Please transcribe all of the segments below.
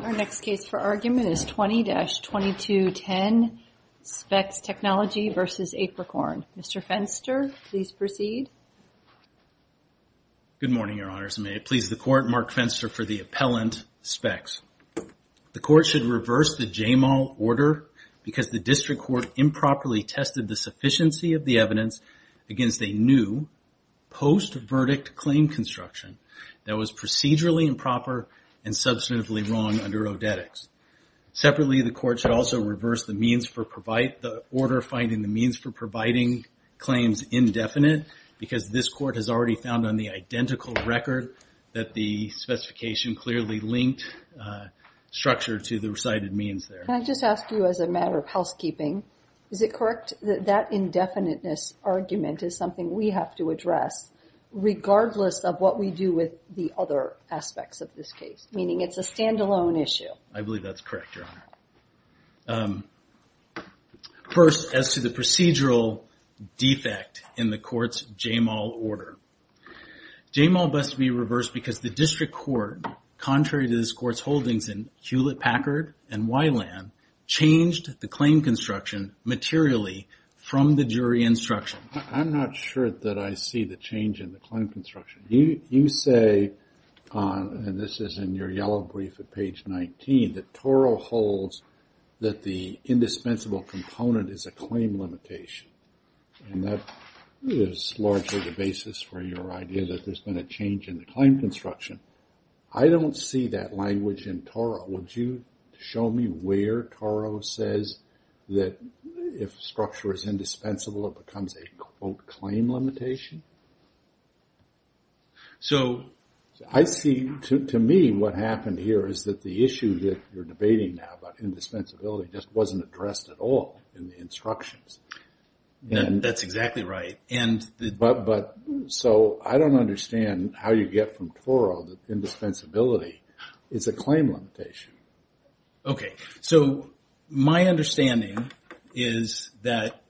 Our next case for argument is 20-2210 Spex Technologies v. Apricorn. Mr. Fenster, please proceed. Good morning, Your Honors, and may it please the Court, Mark Fenster for the appellant, Spex. The Court should reverse the Jamal order because the District Court improperly tested the sufficiency of the evidence against a new, post-verdict claim construction that was procedurally improper and substantively wrong under ODETX. Separately, the Court should also reverse the order finding the means for providing claims indefinite because this Court has already found on the identical record that the specification clearly linked structure to the recited means there. Can I just ask you as a matter of housekeeping, is it correct that that indefiniteness argument is something we have to address regardless of what we do with the other aspects of this case, meaning it's a stand-alone issue? I believe that's correct, Your Honor. First, as to the procedural defect in the Court's Jamal order, Jamal must be reversed because the District Court, contrary to this Court's holdings in Hewlett-Packard and Wyland, changed the claim construction materially from the jury instruction. I'm not sure that I see the change in the claim construction. You say, and this is in your yellow brief at page 19, that Toro holds that the indispensable component is a claim limitation. And that is largely the basis for your idea that there's been a change in the claim construction. I don't see that language in Toro. But would you show me where Toro says that if structure is indispensable, it becomes a, quote, claim limitation? So I see, to me, what happened here is that the issue that you're debating now about indispensability just wasn't addressed at all in the instructions. That's exactly right. So I don't understand how you get from Toro that indispensability is a claim limitation. Okay, so my understanding is that,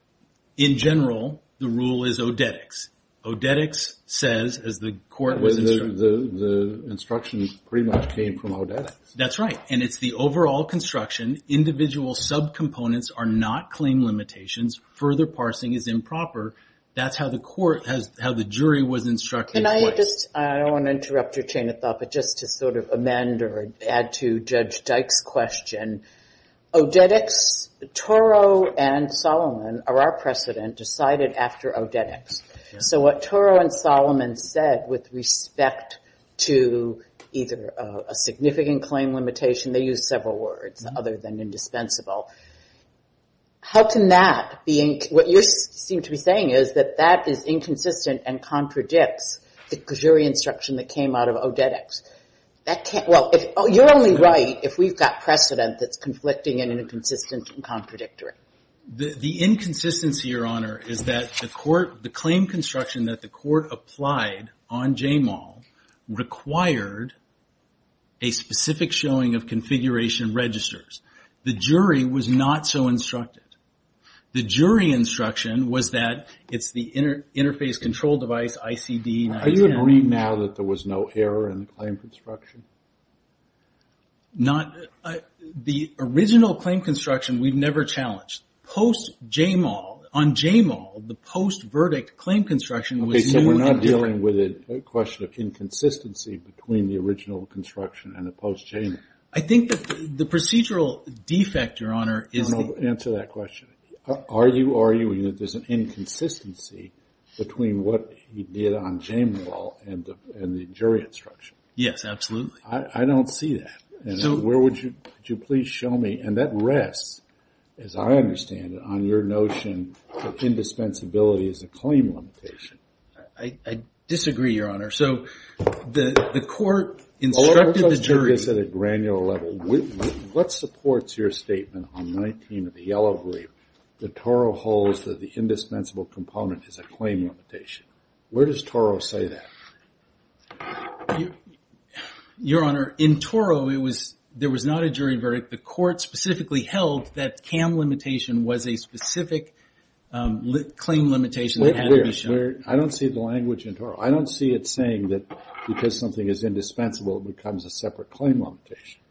in general, the rule is odetics. Odetics says, as the Court was instructed. The instructions pretty much came from odetics. That's right, and it's the overall construction. Individual subcomponents are not claim limitations. Further parsing is improper. That's how the Court has, how the jury was instructed. Can I just, I don't want to interrupt your chain of thought, but just to sort of amend or add to Judge Dyke's question. Odetics, Toro and Solomon are our precedent, decided after odetics. So what Toro and Solomon said with respect to either a significant claim limitation, they used several words other than indispensable. How can that be, what you seem to be saying is that that is inconsistent and contradicts the jury instruction that came out of odetics. That can't, well, you're only right if we've got precedent that's conflicting and inconsistent and contradictory. The inconsistency, Your Honor, is that the Court, the claim construction that the Court applied on JMAL required a specific showing of configuration registers. The jury was not so instructed. The jury instruction was that it's the interface control device, ICD. Are you agreeing now that there was no error in the claim construction? Not, the original claim construction we've never challenged. Post-JMAL, on JMAL, the post-verdict claim construction was new and different. Okay, so we're not dealing with a question of inconsistency between the original construction and the post-JMAL. I think that the procedural defect, Your Honor, is that... Answer that question. Are you arguing that there's an inconsistency between what he did on JMAL and the jury instruction? Yes, absolutely. I don't see that. Where would you please show me? And that rests, as I understand it, on your notion that indispensability is a claim limitation. I disagree, Your Honor. So the court instructed the jury... Let's look at this at a granular level. What supports your statement on 19 of the yellow brief that Toro holds that the indispensable component is a claim limitation? Where does Toro say that? Your Honor, in Toro, there was not a jury verdict. The court specifically held that CAM limitation was a specific claim limitation that had to be shown. I don't see the language in Toro. I don't see it saying that because something is indispensable, it becomes a separate claim limitation.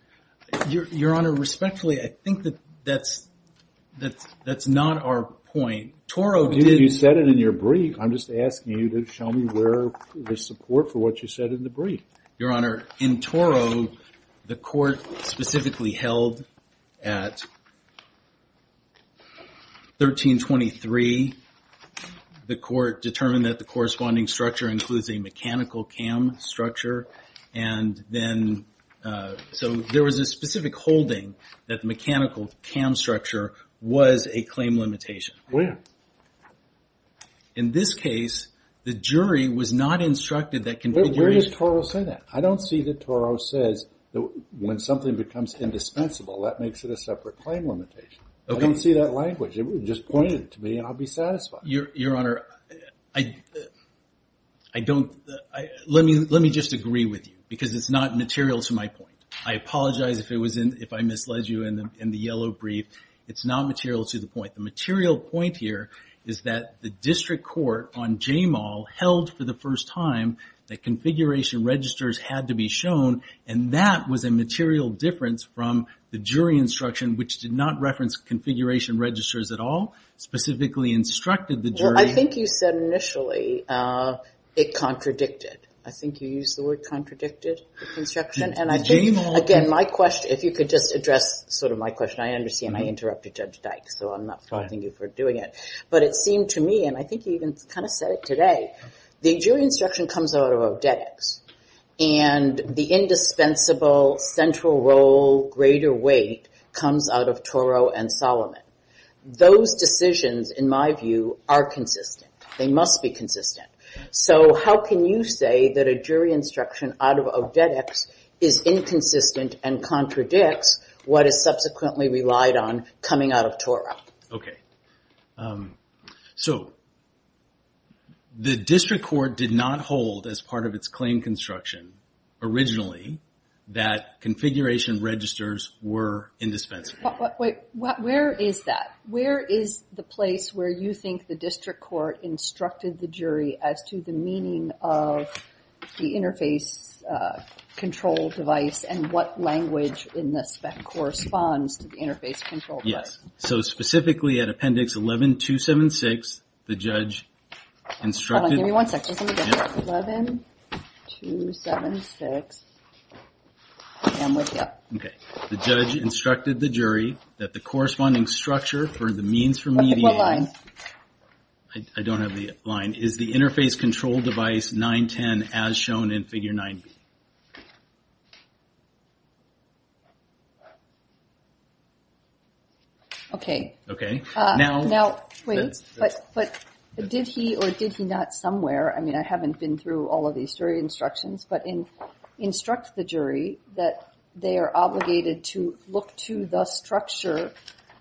Your Honor, respectfully, I think that that's not our point. Toro did... You said it in your brief. I'm just asking you to show me where the support for what you said in the brief. Your Honor, in Toro, the court specifically held at 1323. The court determined that the corresponding structure includes a mechanical CAM structure, and then... So there was a specific holding that the mechanical CAM structure was a claim limitation. Where? In this case, the jury was not instructed that... Where does Toro say that? I don't see that Toro says that when something becomes indispensable, that makes it a separate claim limitation. I don't see that language. It was just pointed to me, and I'll be satisfied. Your Honor, I don't... Let me just agree with you because it's not material to my point. I apologize if I misled you in the yellow brief. It's not material to the point. The material point here is that the district court on Jamal held for the first time that configuration registers had to be shown, and that was a material difference from the jury instruction, which did not reference configuration registers at all, specifically instructed the jury... Well, I think you said initially it contradicted. I think you used the word contradicted construction, and I think... Jamal... Again, my question, if you could just address sort of my question. I understand I interrupted Judge Dykes, so I'm not faulting you for doing it. Go ahead. But it seemed to me, and I think you even kind of said it today, the jury instruction comes out of odetics, and the indispensable central role greater weight comes out of Toro and Solomon. Those decisions, in my view, are consistent. They must be consistent. So how can you say that a jury instruction out of odetics is inconsistent and contradicts what is subsequently relied on coming out of Toro? Okay. So the district court did not hold as part of its claim construction originally that configuration registers were indispensable. Wait. Where is that? Where is the place where you think the district court instructed the jury as to the meaning of the interface control device and what language in the spec corresponds to the interface control device? Yes. So specifically at Appendix 11-276, the judge instructed... Hold on. Give me one second. Let's do it again. 11-276. I'm with you. Okay. The judge instructed the jury that the corresponding structure for the means for media... Okay. What line? I don't have the line. Is the interface control device 910 as shown in Figure 9b? Okay. Okay. Now... Now, wait. But did he or did he not somewhere, I mean, I haven't been through all of these jury instructions, but instruct the jury that they are obligated to look to the structure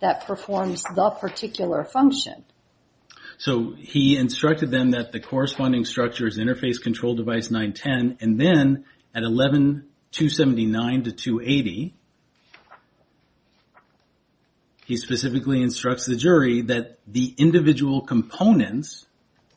that performs the particular function? So he instructed them that the corresponding structure is interface control device 910, and then at 11-279 to 280, he specifically instructs the jury that the individual components...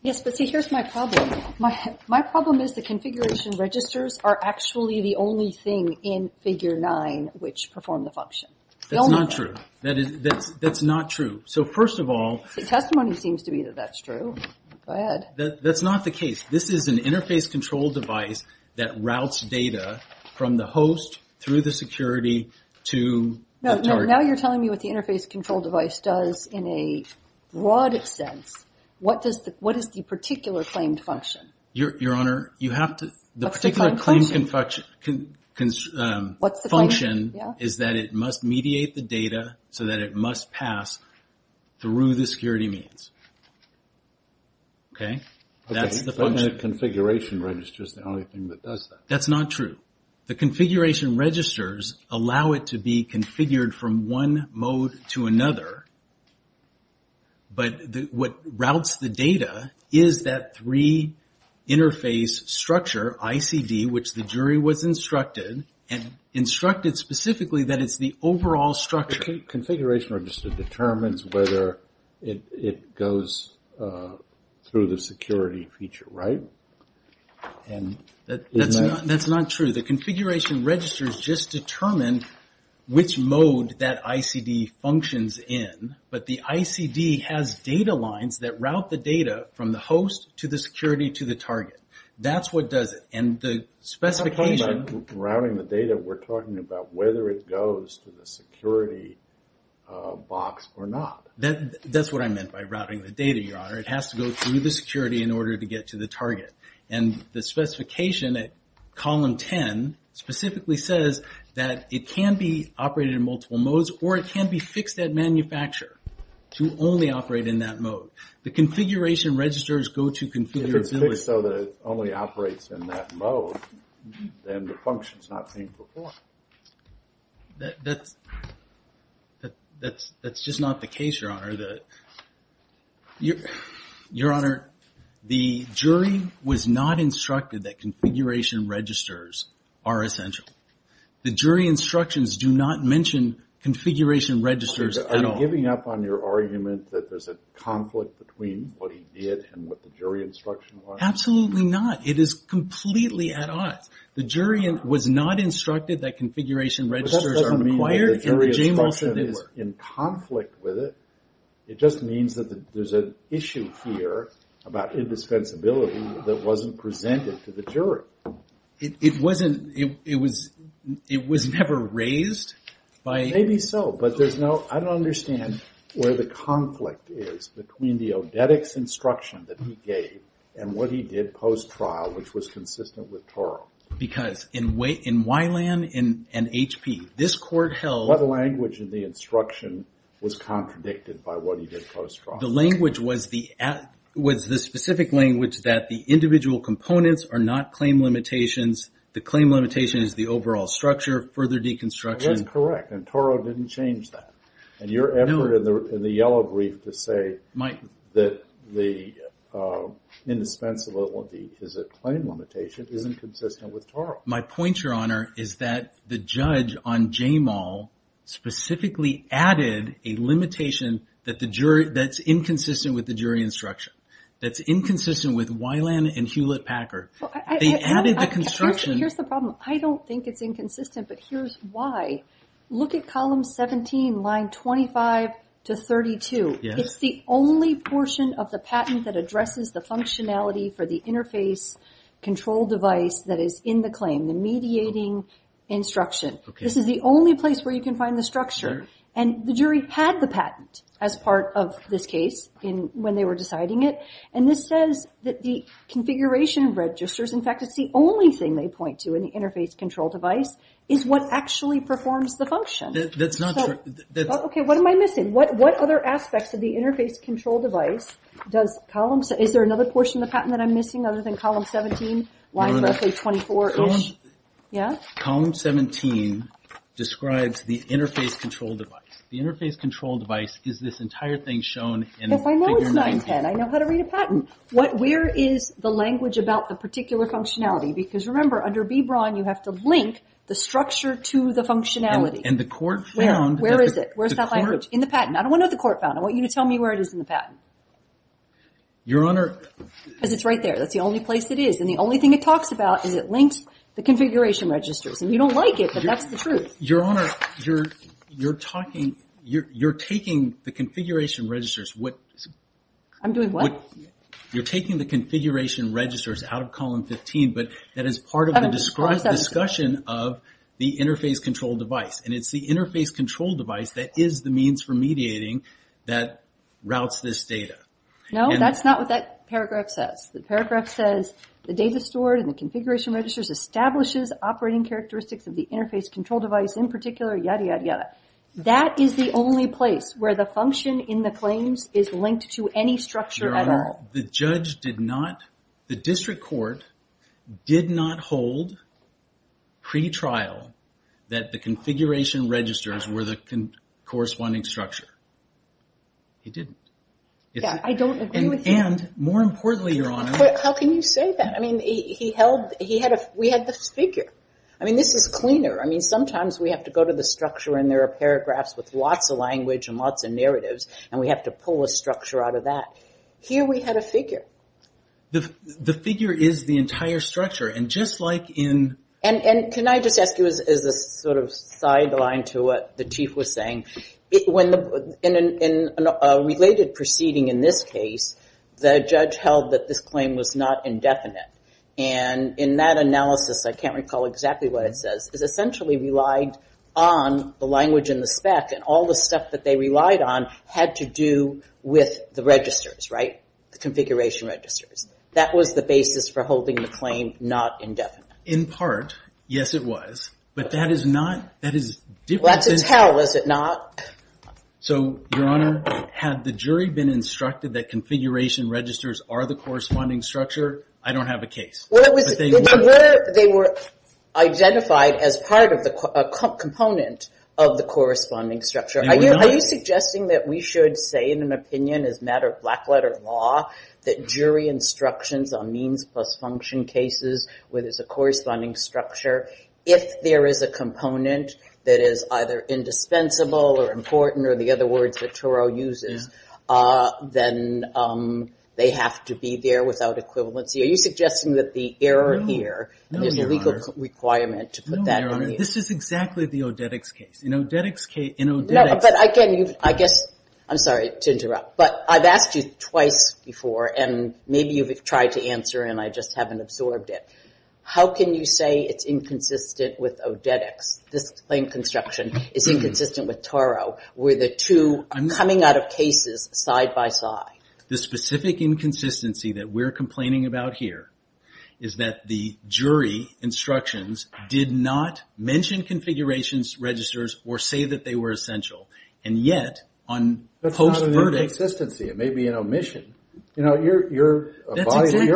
Yes, but see, here's my problem. My problem is the configuration registers are actually the only thing in Figure 9 which perform the function. That's not true. That's not true. So first of all... The testimony seems to be that that's true. Go ahead. That's not the case. This is an interface control device that routes data from the host through the security to the target. Now you're telling me what the interface control device does in a broad sense. What is the particular claimed function? Your Honor, you have to... What's the claimed function? The particular claimed function is that it must mediate the data so that it must pass through the security means. Okay? That's the function. But the configuration register is the only thing that does that. That's not true. The configuration registers allow it to be configured from one mode to another, but what routes the data is that three interface structure, ICD, which the jury was instructed, and instructed specifically that it's the overall structure. Configuration register determines whether it goes through the security feature, right? That's not true. The configuration registers just determine which mode that ICD functions in, but the ICD has data lines that route the data from the host to the security to the target. That's what does it. And the specification... I'm not talking about routing the data. We're talking about whether it goes to the security box or not. That's what I meant by routing the data, Your Honor. It has to go through the security in order to get to the target. And the specification at column 10 specifically says that it can be operated in multiple modes or it can be fixed at manufacturer to only operate in that mode. The configuration registers go to configure... If it's fixed so that it only operates in that mode, then the function's not being performed. Your Honor, the jury was not instructed that configuration registers are essential. The jury instructions do not mention configuration registers at all. Are you giving up on your argument that there's a conflict between what he did and what the jury instruction was? Absolutely not. It is completely at odds. The jury was not instructed that configuration registers are required... In conflict with it, it just means that there's an issue here about indispensability that wasn't presented to the jury. It was never raised by... Maybe so, but there's no... I don't understand where the conflict is between the odetics instruction that he gave and what he did post-trial, which was consistent with Toro. Because in Wylan and HP, this court held... What language in the instruction was contradicted by what he did post-trial? The language was the specific language that the individual components are not claim limitations. The claim limitation is the overall structure of further deconstruction. That's correct, and Toro didn't change that. And your effort in the yellow brief to say that the indispensability is a claim limitation isn't consistent with Toro. My point, Your Honor, is that the judge on J-Mall specifically added a limitation that's inconsistent with the jury instruction. That's inconsistent with Wylan and Hewlett-Packard. They added the construction... Here's the problem. I don't think it's inconsistent, but here's why. Look at column 17, line 25 to 32. It's the only portion of the patent that addresses the functionality for the interface control device that is in the claim, the mediating instruction. This is the only place where you can find the structure. And the jury had the patent as part of this case when they were deciding it. And this says that the configuration of registers... In fact, it's the only thing they point to in the interface control device is what actually performs the function. That's not true. Okay, what am I missing? What other aspects of the interface control device does column 17... Is there another portion of the patent that I'm missing other than column 17? Line roughly 24-ish? Yeah? Column 17 describes the interface control device. The interface control device is this entire thing shown in figure 19. Yes, I know it's 910. I know how to read a patent. Where is the language about the particular functionality? Because remember, under B. Braun, you have to link the structure to the functionality. And the court found... Where is it? Where's that language? In the patent. I don't want to know what the court found. I want you to tell me where it is in the patent. Your Honor... Because it's right there. That's the only place it is. And the only thing it talks about is it links the configuration registers. And you don't like it, but that's the truth. Your Honor, you're taking the configuration registers... I'm doing what? You're taking the configuration registers out of column 15, but that is part of the discussion of the interface control device. And it's the interface control device that is the means for mediating that routes this data. No, that's not what that paragraph says. The paragraph says, the data stored in the configuration registers establishes operating characteristics of the interface control device, in particular, yada, yada, yada. That is the only place where the function in the claims is linked to any structure at all. Your Honor, the judge did not... The district court did not hold, pre-trial, that the configuration registers were the corresponding structure. He didn't. Yeah, I don't agree with you. And more importantly, Your Honor... How can you say that? I mean, he held... We had the figure. I mean, this is cleaner. I mean, sometimes we have to go to the structure and there are paragraphs with lots of language and lots of narratives, and we have to pull a structure out of that. Here we had a figure. The figure is the entire structure. And just like in... And can I just ask you as a sort of sideline to what the Chief was saying, in a related proceeding in this case, the judge held that this claim was not indefinite. And in that analysis, I can't recall exactly what it says, it essentially relied on the language and the spec, and all the stuff that they relied on had to do with the registers, right, the configuration registers. That was the basis for holding the claim not indefinite. In part, yes, it was. But that is not... Well, that's a tell, is it not? So, Your Honor, had the jury been instructed that configuration registers are the corresponding structure, I don't have a case. They were identified as part of the component of the corresponding structure. Are you suggesting that we should say, in an opinion, as a matter of black-letter law, that jury instructions on means plus function cases, where there's a corresponding structure, if there is a component that is either indispensable or important, or the other words that Turo uses, then they have to be there without equivalency. Are you suggesting that the error here is a legal requirement to put that... No, Your Honor, this is exactly the Odetics case. No, but I guess, I'm sorry to interrupt, but I've asked you twice before, and maybe you've tried to answer and I just haven't absorbed it. How can you say it's inconsistent with Odetics? This claim construction is inconsistent with Turo, where the two are coming out of cases side by side. The specific inconsistency that we're complaining about here is that the jury instructions did not mention configuration registers or say that they were essential. And yet, on post-verdict... That's not an inconsistency, it may be an omission. You know, your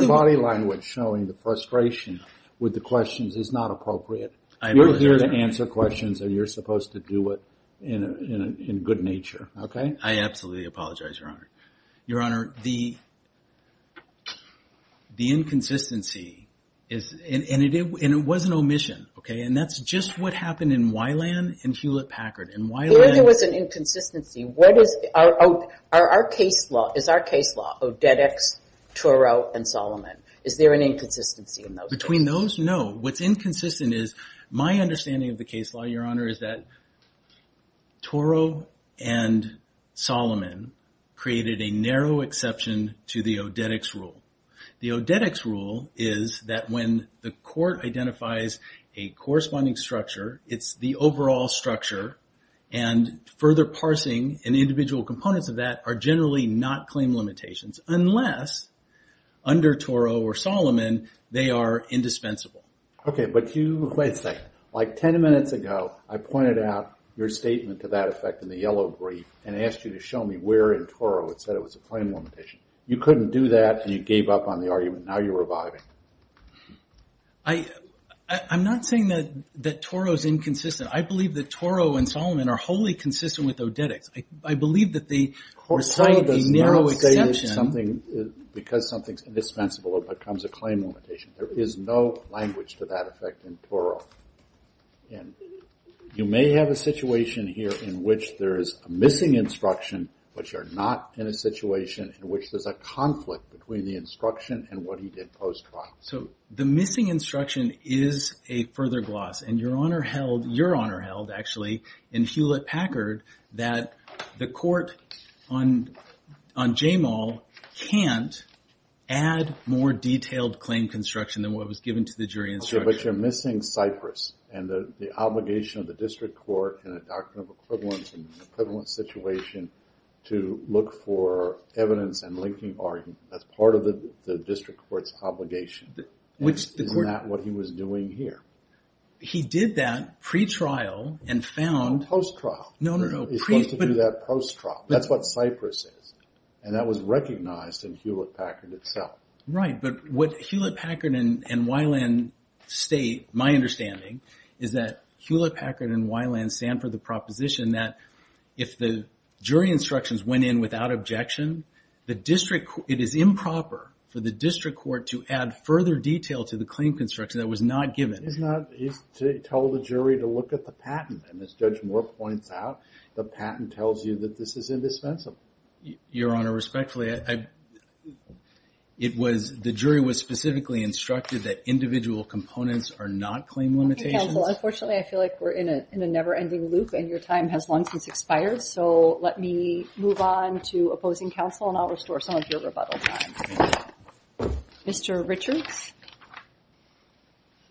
body language showing the frustration with the questions is not appropriate. You're here to answer questions and you're supposed to do it in good nature. I absolutely apologize, Your Honor. Your Honor, the inconsistency, and it was an omission, and that's just what happened in Weiland and Hewlett-Packard. There was an inconsistency. What is our case law? Is our case law Odetics, Turo, and Solomon? Is there an inconsistency in those cases? Between those, no. What's inconsistent is my understanding of the case law, Your Honor, is that Turo and Solomon created a narrow exception to the Odetics rule. The Odetics rule is that when the court identifies a corresponding structure, it's the overall structure, and further parsing and individual components of that are generally not claim limitations, unless under Turo or Solomon they are indispensable. Okay, but you... Wait a second. Like 10 minutes ago, I pointed out your statement to that effect in the yellow brief and asked you to show me where in Turo it said it was a claim limitation. You couldn't do that and you gave up on the argument. Now you're reviving. I'm not saying that Turo is inconsistent. I believe that Turo and Solomon are wholly consistent with Odetics. I believe that they recite the narrow exception. Turo does not say that because something is indispensable it becomes a claim limitation. There is no language to that effect in Turo. You may have a situation here in which there is a missing instruction, but you're not in a situation in which there's a conflict between the instruction and what he did post-trial. The missing instruction is a further gloss, and Your Honor held, actually, in Hewlett-Packard, that the court on Jamal can't add more detailed claim construction than what was given to the jury instruction. But you're missing Cyprus and the obligation of the district court in a doctrine of equivalence and equivalence situation to look for evidence and linking argument. That's part of the district court's obligation. Isn't that what he was doing here? He did that pre-trial and found... Post-trial. He's supposed to do that post-trial. That's what Cyprus is. And that was recognized in Hewlett-Packard itself. Right, but what Hewlett-Packard and Weiland state, my understanding, is that Hewlett-Packard and Weiland stand for the proposition that if the jury instructions went in without objection, it is improper for the district court to add further detail to the claim construction that was not given. He told the jury to look at the patent. And as Judge Moore points out, the patent tells you that this is indispensable. Your Honor, respectfully, the jury was specifically instructed that individual components are not claim limitations. Unfortunately, I feel like we're in a never-ending loop and your time has long since expired, so let me move on to opposing counsel and I'll restore some of your rebuttal time. Mr. Richards?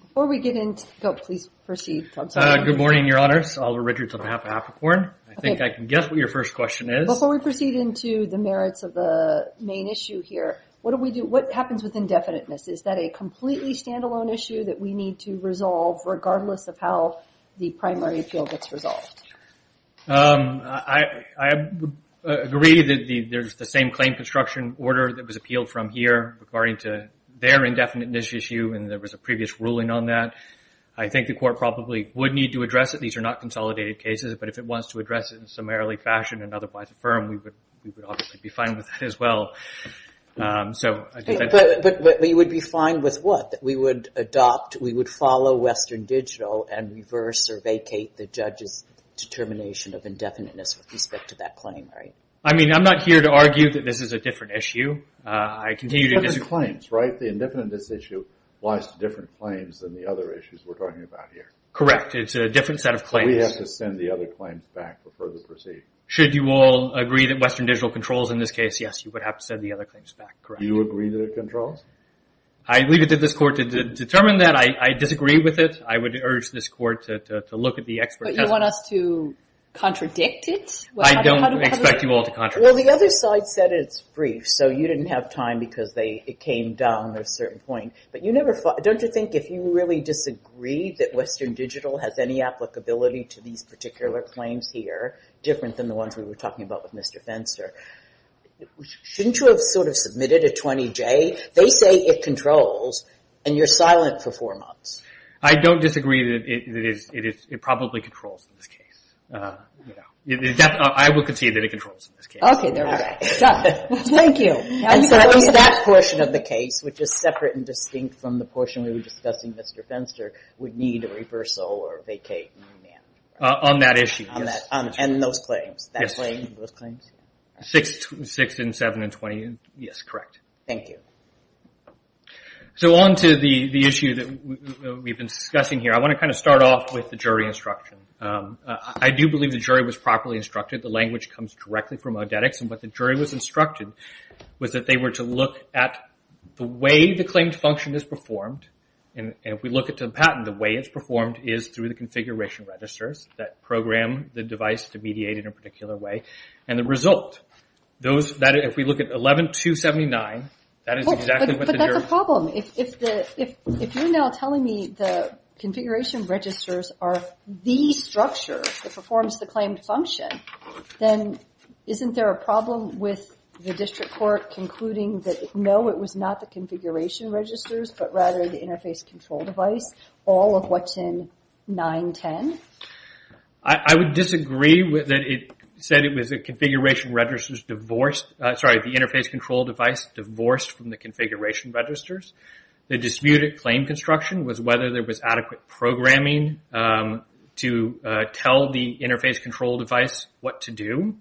Before we get into... Oh, please proceed. Good morning, Your Honor. Oliver Richards on behalf of Apricorn. I think I can guess what your first question is. Before we proceed into the merits of the main issue here, Is that a completely standalone issue that we need to resolve regardless of how the primary appeal gets resolved? I agree that there's the same claim construction order that was appealed from here regarding to their indefinite niche issue and there was a previous ruling on that. I think the court probably would need to address it. These are not consolidated cases, but if it wants to address it in a summarily fashion and otherwise affirm, we would obviously be fine with that as well. But you would be fine with what? That we would adopt, we would follow Western Digital and reverse or vacate the judge's determination of indefiniteness with respect to that claim, right? I mean, I'm not here to argue that this is a different issue. I continue to disagree. But the claims, right? The indefinite niche issue lies to different claims than the other issues we're talking about here. Correct. It's a different set of claims. We have to send the other claims back before we proceed. Should you all agree that Western Digital controls in this case, yes, you would have to send the other claims back, correct. Do you agree that it controls? I leave it to this court to determine that. I disagree with it. I would urge this court to look at the expert testimony. But you want us to contradict it? I don't expect you all to contradict it. Well, the other side said it's brief, so you didn't have time because it came down at a certain point. But don't you think if you really disagree that Western Digital has any applicability to these particular claims here, different than the ones we were talking about with Mr. Fenster, shouldn't you have sort of submitted a 20-J? They say it controls, and you're silent for four months. I don't disagree that it probably controls in this case. I will concede that it controls in this case. Okay, there we go. Thank you. And so at least that portion of the case, which is separate and distinct from the portion we were discussing with Mr. Fenster, would need a reversal or vacate. On that issue, yes. And those claims. Six and seven and 20, yes, correct. Thank you. So on to the issue that we've been discussing here. I want to kind of start off with the jury instruction. I do believe the jury was properly instructed. The language comes directly from Odetics. And what the jury was instructed was that they were to look at the way the claimed function is performed. And if we look at the patent, the way it's performed is through the configuration registers that program the device to mediate in a particular way. And the result, if we look at 11-279, that is exactly what the jury... But that's a problem. If you're now telling me the configuration registers are the structure that performs the claimed function, then isn't there a problem with the district court concluding that no, it was not the configuration registers, but rather the interface control device, all of what's in 910? I would disagree that it said it was the configuration registers divorced... Sorry, the interface control device divorced from the configuration registers. The disputed claim construction was whether there was adequate programming to tell the interface control device what to do.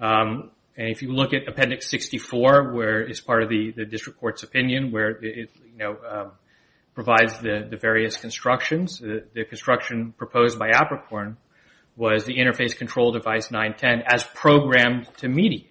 And if you look at Appendix 64, where it's part of the district court's opinion, where it provides the various constructions, the construction proposed by Apricorn was the interface control device 910 as programmed to mediate.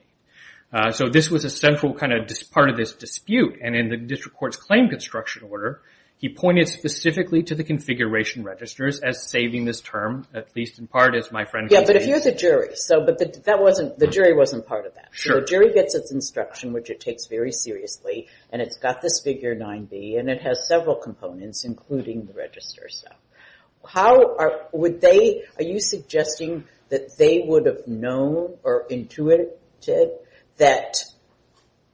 So this was a central part of this dispute. And in the district court's claim construction order, he pointed specifically to the configuration registers as saving this term, at least in part, as my friend... Yeah, but if you're the jury, but the jury wasn't part of that. So the jury gets its instruction, which it takes very seriously, and it's got this figure 9b, and it has several components, including the register stuff. Are you suggesting that they would have known or intuited that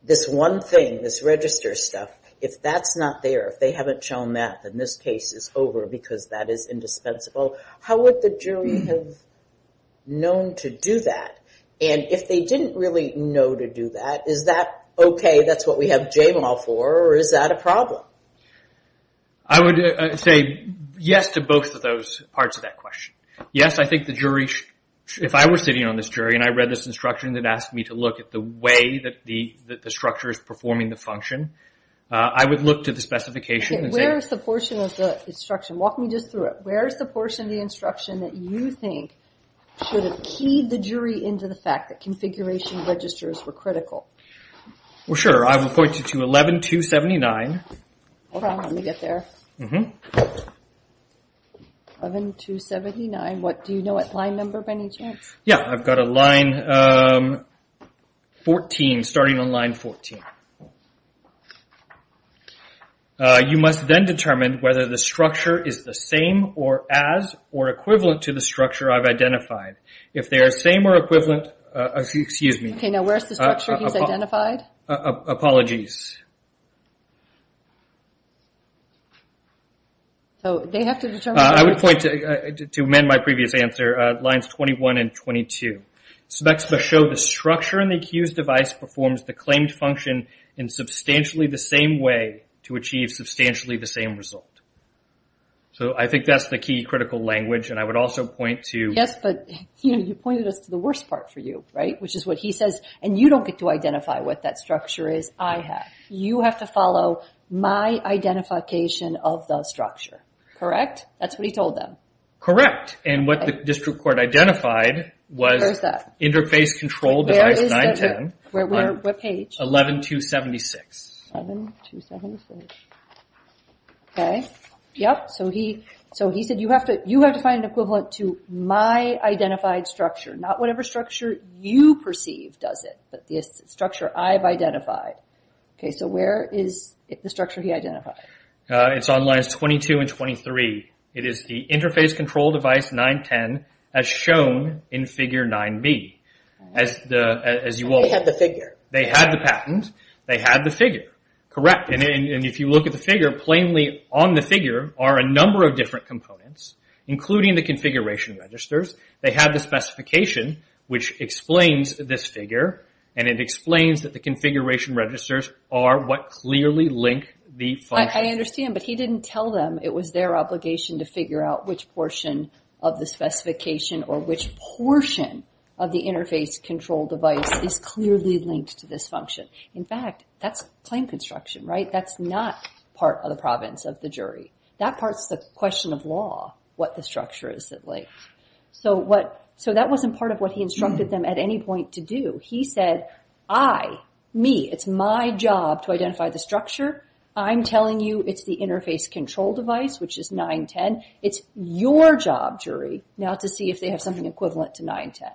this one thing, this register stuff, if that's not there, if they haven't shown that, then this case is over because that is indispensable? How would the jury have known to do that? And if they didn't really know to do that, is that okay, that's what we have jail law for, or is that a problem? I would say yes to both of those parts of that question. Yes, I think the jury should... If I were sitting on this jury and I read this instruction that asked me to look at the way that the structure is performing the function, I would look to the specification and say... Okay, where is the portion of the instruction? Walk me just through it. Where is the portion of the instruction that you think should have keyed the jury into the fact that configuration registers were critical? Well, sure, I would point you to 11.279. Hold on, let me get there. 11.279, do you know what line number by any chance? Yeah, I've got a line 14, starting on line 14. You must then determine whether the structure is the same or as or equivalent to the structure I've identified. If they are same or equivalent... Excuse me. Okay, now where is the structure he's identified? Apologies. I would point to, to amend my previous answer, lines 21 and 22. Specs must show the structure in the accused device performs the claimed function in substantially the same way to achieve substantially the same result. So I think that's the key critical language, and I would also point to... Yes, but you pointed us to the worst part for you, right? Which is what he says, and you don't get to identify what that structure is. I have. You have to follow my identification of the structure. Correct? That's what he told them. Correct. And what the district court identified was... Where is that? Interface control device 910. Where is that? What page? 11.276. 11.276. Okay, yep. So he said you have to find an equivalent to my identified structure, not whatever structure you perceive does it, but the structure I've identified. Okay, so where is the structure he identified? It's on lines 22 and 23. It is the interface control device 910 as shown in figure 9b. As you all know. They had the figure. They had the patent. They had the figure. Correct, and if you look at the figure, plainly on the figure are a number of different components, including the configuration registers. They have the specification, which explains this figure, and it explains that the configuration registers are what clearly link the function. I understand, but he didn't tell them. It was their obligation to figure out which portion of the specification or which portion of the interface control device is clearly linked to this function. In fact, that's plain construction, right? That's not part of the province of the jury. That part's the question of law, what the structure is that links. So that wasn't part of what he instructed them at any point to do. He said, I, me, it's my job to identify the structure. I'm telling you it's the interface control device, which is 910. It's your job, jury, now to see if they have something equivalent to 910.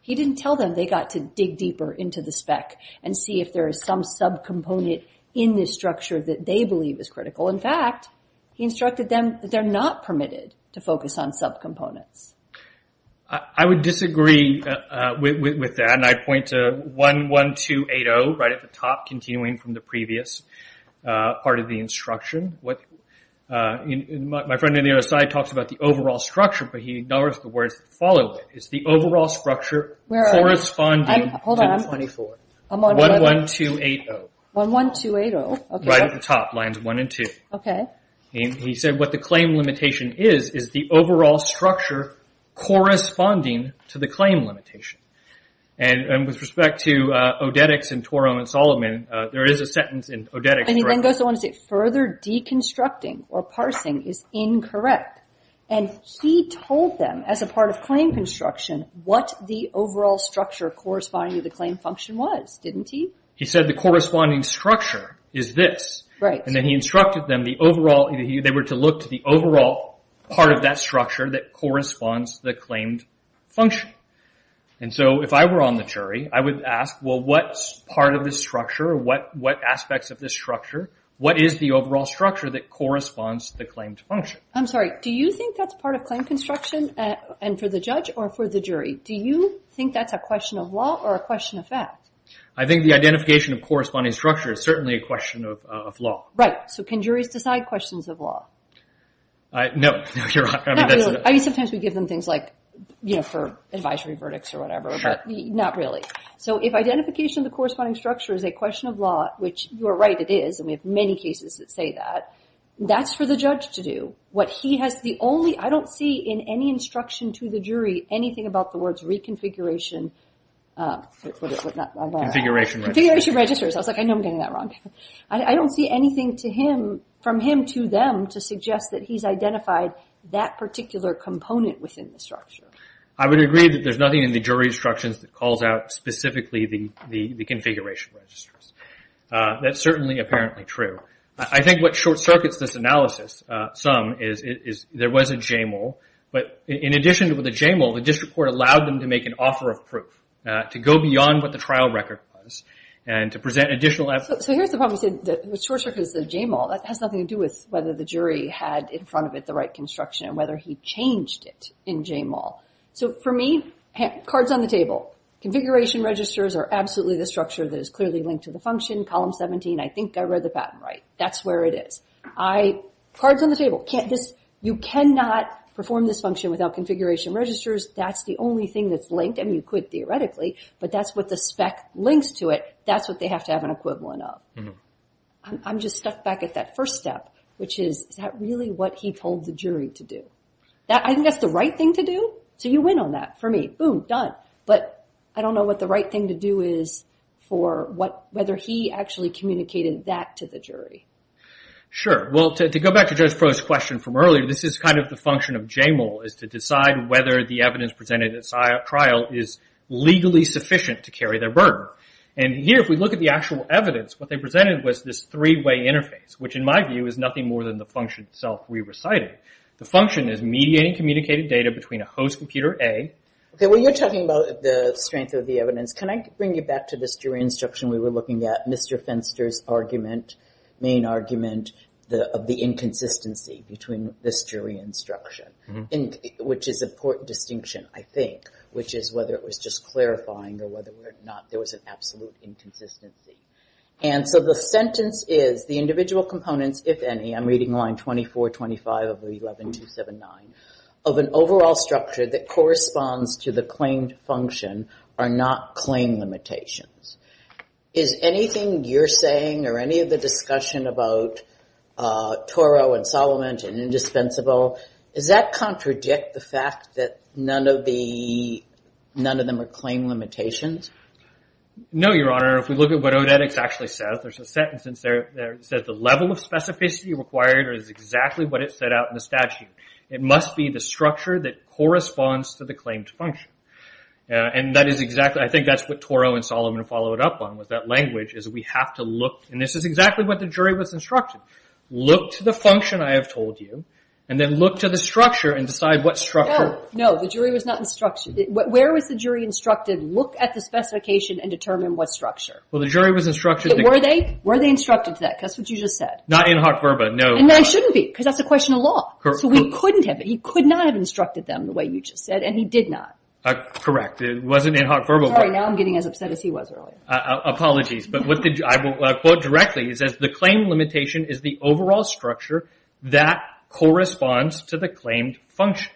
He didn't tell them. They got to dig deeper into the spec and see if there is some subcomponent in this structure that they believe is critical. In fact, he instructed them that they're not permitted to focus on subcomponents. I would disagree with that, and I'd point to 11280 right at the top, continuing from the previous part of the instruction. My friend on the other side talks about the overall structure, but he ignores the words that follow it. It's the overall structure corresponding to 24. 11280. 11280, okay. Right at the top, lines 1 and 2. Okay. He said what the claim limitation is is the overall structure corresponding to the claim limitation. And with respect to Odetics and Torum and Solomon, there is a sentence in Odetics. And he then goes on to say, further deconstructing or parsing is incorrect. And he told them, as a part of claim construction, what the overall structure corresponding to the claim function was, didn't he? He said the corresponding structure is this. Right. And then he instructed them, they were to look to the overall part of that structure that corresponds to the claimed function. And so if I were on the jury, I would ask, well, what part of this structure, what aspects of this structure, what is the overall structure that corresponds to the claimed function? I'm sorry, do you think that's part of claim construction and for the judge or for the jury? Do you think that's a question of law or a question of fact? I think the identification of corresponding structure is certainly a question of law. Right. So can juries decide questions of law? No. Not really. I mean, sometimes we give them things like, you know, for advisory verdicts or whatever, but not really. So if identification of the corresponding structure is a question of law, which you are right it is, and we have many cases that say that, that's for the judge to do. What he has the only, I don't see in any instruction to the jury anything about the words reconfiguration... Configuration registers. Configuration registers. I was like, I know I'm getting that wrong. I don't see anything to him, from him to them, to suggest that he's identified that particular component within the structure. I would agree that there's nothing in the jury instructions that calls out specifically the configuration registers. That's certainly apparently true. I think what short circuits this analysis some is there was a JML, but in addition to the JML, the district court allowed them to make an offer of proof to go beyond what the trial record was and to present additional evidence. So here's the problem. The short circuit is the JML. That has nothing to do with whether the jury had in front of it the right construction and whether he changed it in JML. So for me, cards on the table. Configuration registers are absolutely the structure that is clearly linked to the function. Column 17, I think I read the pattern right. That's where it is. Cards on the table. You cannot perform this function without configuration registers. That's the only thing that's linked, and you could theoretically, but that's what the spec links to it. That's what they have to have an equivalent of. I'm just stuck back at that first step, which is, is that really what he told the jury to do? I think that's the right thing to do, so you win on that for me. Boom, done. But I don't know what the right thing to do is for whether he actually communicated that to the jury. Sure. Well, to go back to Judge Froh's question from earlier, this is kind of the function of JML, is to decide whether the evidence presented at trial is legally sufficient to carry their burden. And here, if we look at the actual evidence, what they presented was this three-way interface, which in my view is nothing more than the function itself we recited. The function is mediating communicated data between a host computer, A. Okay, well, you're talking about the strength of the evidence. Can I bring you back to this jury instruction we were looking at, Mr. Fenster's argument, main argument of the inconsistency between this jury instruction, which is an important distinction, I think, which is whether it was just clarifying or whether or not there was an absolute inconsistency. And so the sentence is, the individual components, if any, I'm reading line 2425 of the 11279, of an overall structure that corresponds to the claimed function are not claim limitations. Is anything you're saying or any of the discussion about Toro and Solomon and indispensable, does that contradict the fact that none of them are claim limitations? No, Your Honor. If we look at what Odetics actually says, there's a sentence that says, the level of specificity required is exactly what it said out in the statute. It must be the structure that corresponds to the claimed function. And that is exactly, I think that's what Toro and Solomon followed up on with that language, is we have to look, and this is exactly what the jury was instructed. Look to the function I have told you, and then look to the structure and decide what structure. No, the jury was not instructed. Where was the jury instructed, look at the specification and determine what structure? Well, the jury was instructed. Were they? Were they instructed to that? Because that's what you just said. Not in hoc verba, no. And they shouldn't be, because that's a question of law. So we couldn't have, he could not have instructed them the way you just said, and he did not. Correct. It wasn't in hoc verba. Sorry, now I'm getting as upset as he was earlier. Apologies. But I will quote directly. It says, the claim limitation is the overall structure that corresponds to the claimed function.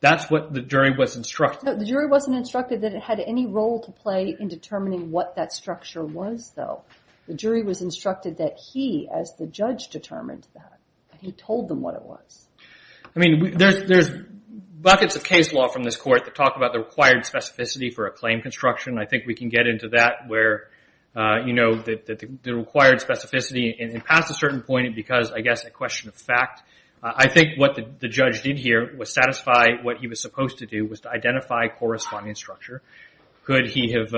That's what the jury was instructed. No, the jury wasn't instructed that it had any role to play in determining what that structure was, though. The jury was instructed that he, as the judge, determined that. He told them what it was. I mean, there's buckets of case law from this court that talk about the required specificity for a claim construction. I think we can get into that, where, you know, the required specificity, and pass a certain point because, I guess, a question of fact. I think what the judge did here was satisfy what he was supposed to do, was to identify corresponding structure. Could he have,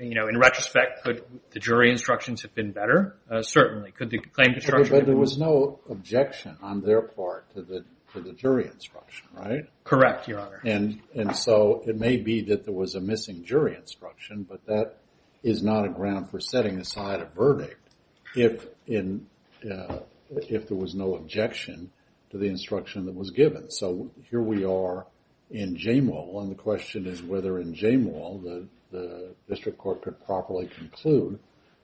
you know, in retrospect, could the jury instructions have been better? Certainly. Could the claim construction have been better? But there was no objection on their part to the jury instruction, right? Correct, Your Honor. And so, it may be that there was a missing jury instruction, but that is not a ground for setting aside a verdict if there was no objection to the instruction that was given. So, here we are in Jamewel, and the question is whether in Jamewel the district court could properly conclude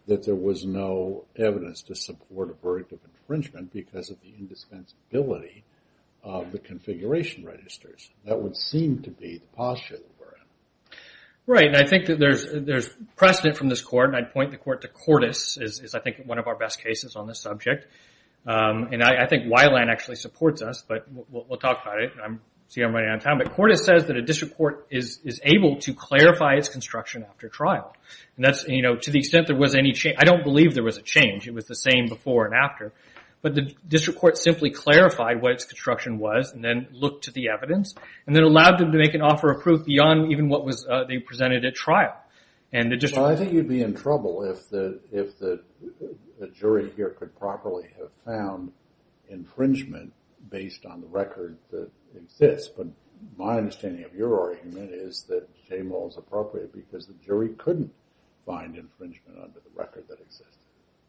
that there was no evidence to support a verdict of infringement because of the indispensability of the configuration registers. That would seem to be the posture that we're in. Right, and I think that there's precedent from this court, and I'd point the court to Cordes, is I think one of our best cases on this subject. And I think Weiland actually supports us, but we'll talk about it. I see I'm running out of time. But Cordes says that a district court is able to clarify its construction after trial. And that's, you know, to the extent there was any change. I don't believe there was a change. It was the same before and after. But the district court simply clarified what its construction was, and then looked to the evidence, and then allowed them to make an offer of proof beyond even what they presented at trial. Well, I think you'd be in trouble if the jury here could properly have found infringement based on the record that it fits. But my understanding of your argument is that Jamewel is appropriate because the jury couldn't find infringement under the record that exists.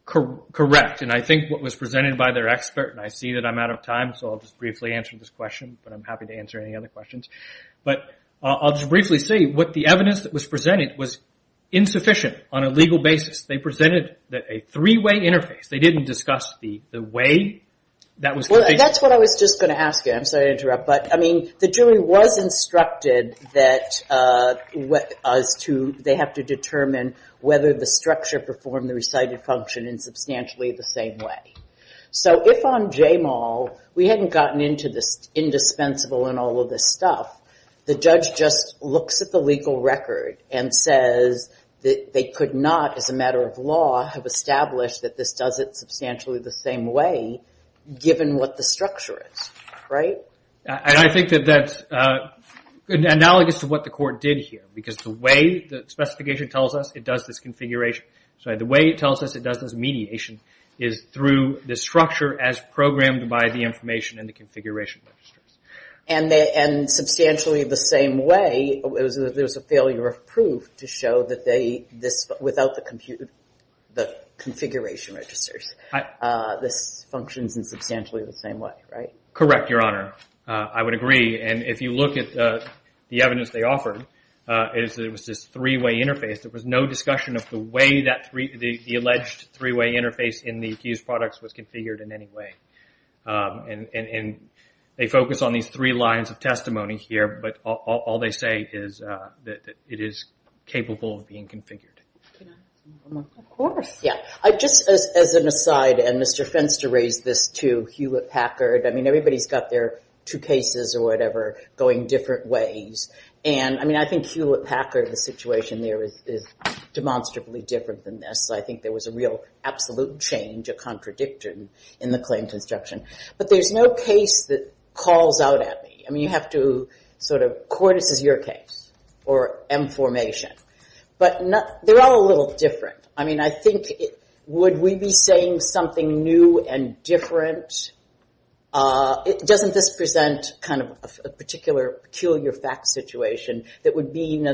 Correct. And I think what was presented by their expert, and I see that I'm out of time, so I'll just briefly answer this question, but I'm happy to answer any other questions. But I'll just briefly say what the evidence that was presented was insufficient on a legal basis. They presented a three-way interface. They didn't discuss the way that was sufficient. Well, that's what I was just going to ask you. I'm sorry to interrupt. But, I mean, the jury was instructed that they have to determine whether the structure performed the recited function in substantially the same way. So if on Jamewel we hadn't gotten into the indispensable and all of this stuff, the judge just looks at the legal record and says that they could not, as a matter of law, have established that this does it substantially the same way given what the structure is, right? I think that that's analogous to what the court did here because the way the specification tells us it does this configuration, sorry, the way it tells us it does this mediation is through the structure as programmed by the information in the configuration registers. And substantially the same way, there was a failure of proof to show that without the configuration registers this functions in substantially the same way, right? Correct, Your Honor. I would agree. And if you look at the evidence they offered, it was this three-way interface. There was no discussion of the way the alleged three-way interface in the accused products was configured in any way. And they focus on these three lines of testimony here, but all they say is that it is capable of being configured. Of course. Yeah. Just as an aside, and Mr. Fenster raised this too, Hewlett-Packard, I mean, everybody's got their two cases or whatever going different ways. And I mean, I think Hewlett-Packard, the situation there is demonstrably different than this. I think there was a real absolute change, a contradiction in the claim construction. But there's no case that calls out at me. I mean, you have to sort of, court, this is your case, or M formation. But they're all a little different. I mean, I think, would we be saying something new and different? Doesn't this present kind of a particular peculiar fact situation that would mean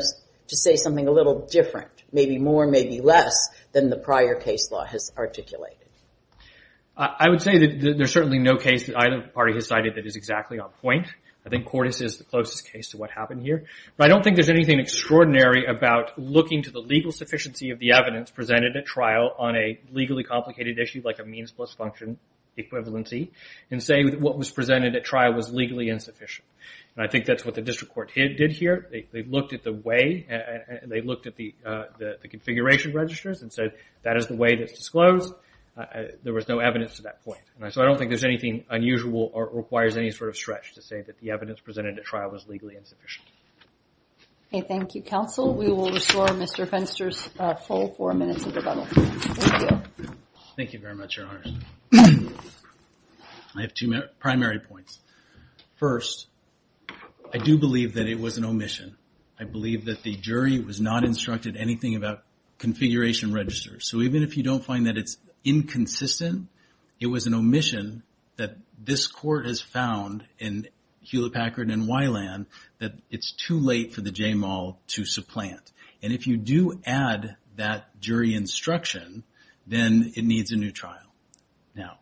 to say something a little different, maybe more, maybe less, than the prior case law has articulated? I would say that there's certainly no case that either party has cited that is exactly on point. I think Cordes is the closest case to what happened here. But I don't think there's anything extraordinary about looking to the legal sufficiency of the evidence presented at trial on a legally complicated issue, like a means plus function equivalency, and say what was presented at trial was legally insufficient. And I think that's what the district court did here. They looked at the way, they looked at the configuration registers and said that is the way that's disclosed. There was no evidence to that point. So I don't think there's anything unusual or requires any sort of stretch to say that the evidence presented at trial was legally insufficient. Okay, thank you, counsel. We will restore Mr. Fenster's full four minutes of the bubble. Thank you. Thank you very much, Your Honors. I have two primary points. First, I do believe that it was an omission. I believe that the jury was not instructed anything about configuration registers. So even if you don't find that it's inconsistent, it was an omission that this court has found in Hewlett-Packard and Wyland that it's too late for the JMAL to supplant. And if you do add that jury instruction, then it needs a new trial. Now,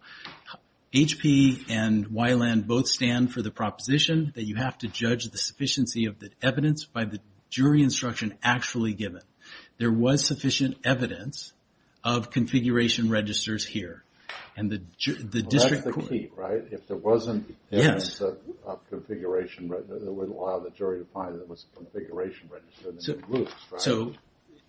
HP and Wyland both stand for the proposition that you have to judge the sufficiency of the evidence by the jury instruction actually given. There was sufficient evidence of configuration registers here. And the district court... Well, that's the key, right? If there wasn't evidence of configuration registers, it wouldn't allow the jury to find that it was a configuration register. So,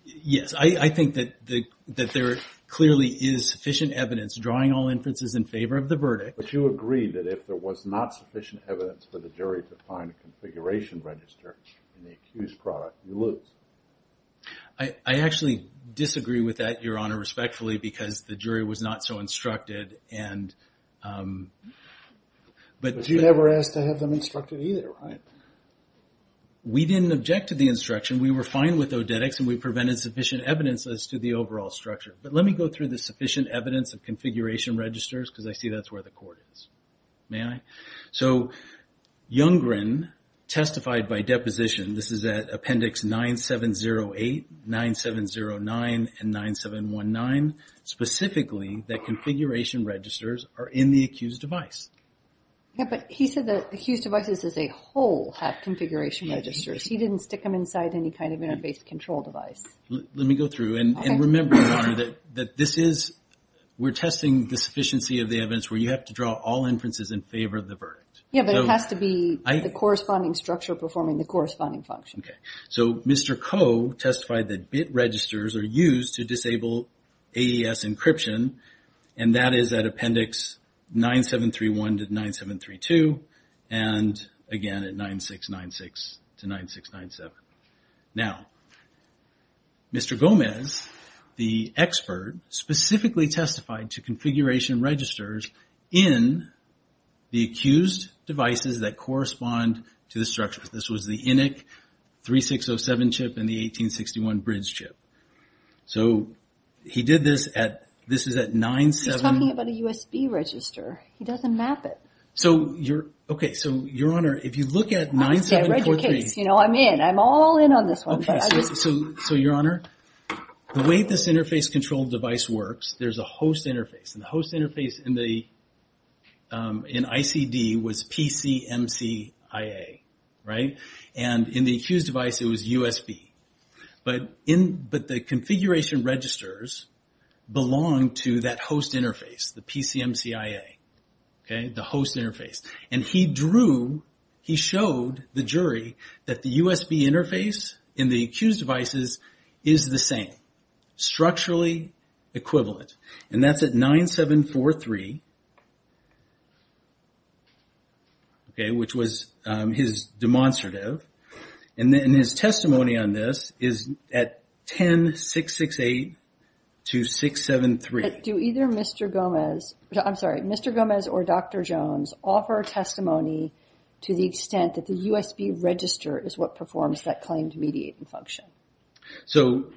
yes, I think that there clearly is sufficient evidence drawing all inferences in favor of the verdict. But you agree that if there was not sufficient evidence for the jury to find a configuration register in the accused product, you lose. I actually disagree with that, Your Honor, respectfully, because the jury was not so instructed and... But you never asked to have them instructed either, right? We didn't object to the instruction. We were fine with Odetics, and we prevented sufficient evidence as to the overall structure. But let me go through the sufficient evidence of configuration registers, because I see that's where the court is. May I? So, Younggren testified by deposition, this is at Appendix 9708, 9709, and 9719, specifically that configuration registers are in the accused device. Yeah, but he said that accused devices as a whole have configuration registers. He didn't stick them inside any kind of interface control device. Let me go through, and remember, Your Honor, that this is... We're testing the sufficiency of the evidence where you have to draw all inferences in favor of the verdict. Yeah, but it has to be the corresponding structure performing the corresponding function. Okay. So, Mr. Koh testified that bit registers are used to disable AES encryption, and that is at Appendix 9731 to 9732, and, again, at 9696 to 9697. Now, Mr. Gomez, the expert, specifically testified to configuration registers in the accused devices that correspond to the structure. This was the INIC 3607 chip and the 1861 bridge chip. So, he did this at... This is at 97... He's talking about a USB register. He doesn't map it. So, you're... Okay, so, Your Honor, if you look at 9743... Okay, I read your case. You know, I'm in. I'm all in on this one. Okay, so, Your Honor, the way this interface control device works, there's a host interface, and the host interface in ICD was PCMCIA, right? And in the accused device, it was USB. But the configuration registers belong to that host interface, the PCMCIA, okay? The host interface. And he drew... He showed the jury that the USB interface in the accused devices is the same, structurally equivalent, and that's at 9743, okay, which was his demonstrative. And his testimony on this is at 10668 to 673. Do either Mr. Gomez... I'm sorry, Mr. Gomez or Dr. Jones offer testimony to the extent that the USB register is what performs that claimed mediating function? So,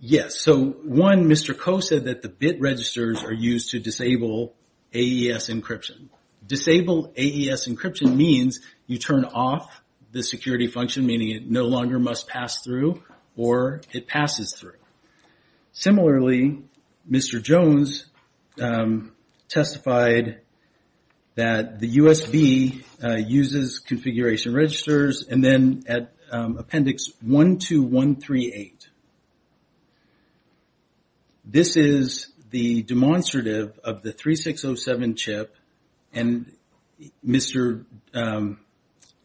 yes. So, one, Mr. Koh said that the bit registers are used to disable AES encryption. Disable AES encryption means you turn off the security function, meaning it no longer must pass through, or it passes through. Similarly, Mr. Jones testified that the USB uses configuration registers, and then at appendix 12138, this is the demonstrative of the 3607 chip, and Mr.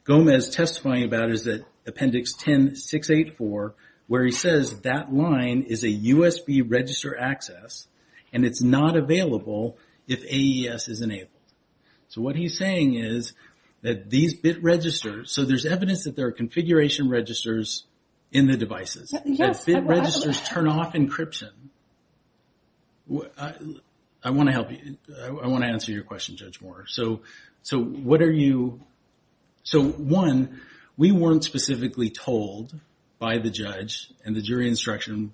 Gomez testifying about it is at appendix 10684, where he says that line is a USB register access, and it's not available if AES is enabled. So, what he's saying is that these bit registers... So, there's evidence that there are configuration registers in the devices. Bit registers turn off encryption. I want to help you. I want to answer your question, Judge Moore. So, what are you... So, one, we weren't specifically told by the judge, and the jury instruction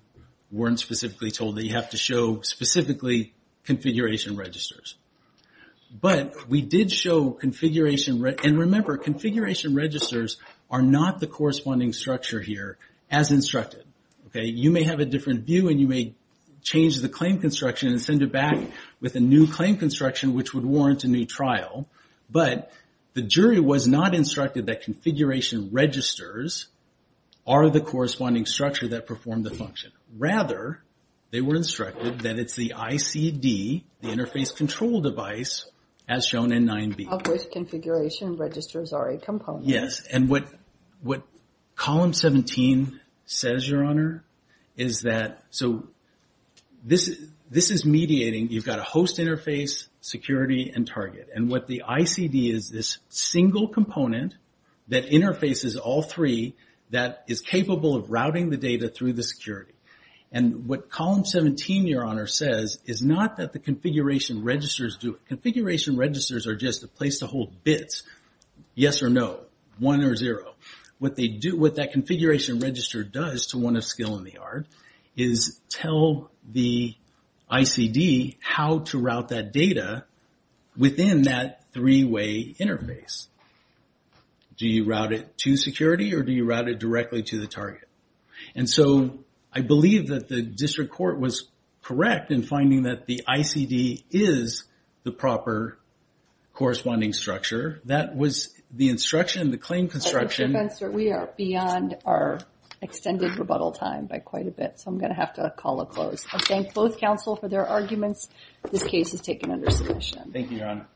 weren't specifically told that you have to show specifically configuration registers. But we did show configuration... And remember, configuration registers are not the corresponding structure here as instructed. You may have a different view, and you may change the claim construction and send it back with a new claim construction, which would warrant a new trial. But the jury was not instructed that configuration registers are the corresponding structure that perform the function. Rather, they were instructed that it's the ICD, the interface control device, as shown in 9B. Of which configuration registers are a component. Yes, and what column 17 says, Your Honor, is that... So, this is mediating, you've got a host interface, security, and target. And what the ICD is, this single component that interfaces all three that is capable of routing the data through the security. And what column 17, Your Honor, says is not that the configuration registers do it. Configuration registers are just a place to hold bits. Yes or no. One or zero. What that configuration register does to one of skill in the art, is tell the ICD how to route that data within that three-way interface. Do you route it to security, or do you route it directly to the target? And so, I believe that the district court was correct in finding that the ICD is the proper corresponding structure. That was the instruction, the claim construction... So, I'm going to have to call it closed. I thank both counsel for their arguments. This case is taken under submission. Thank you, Your Honor.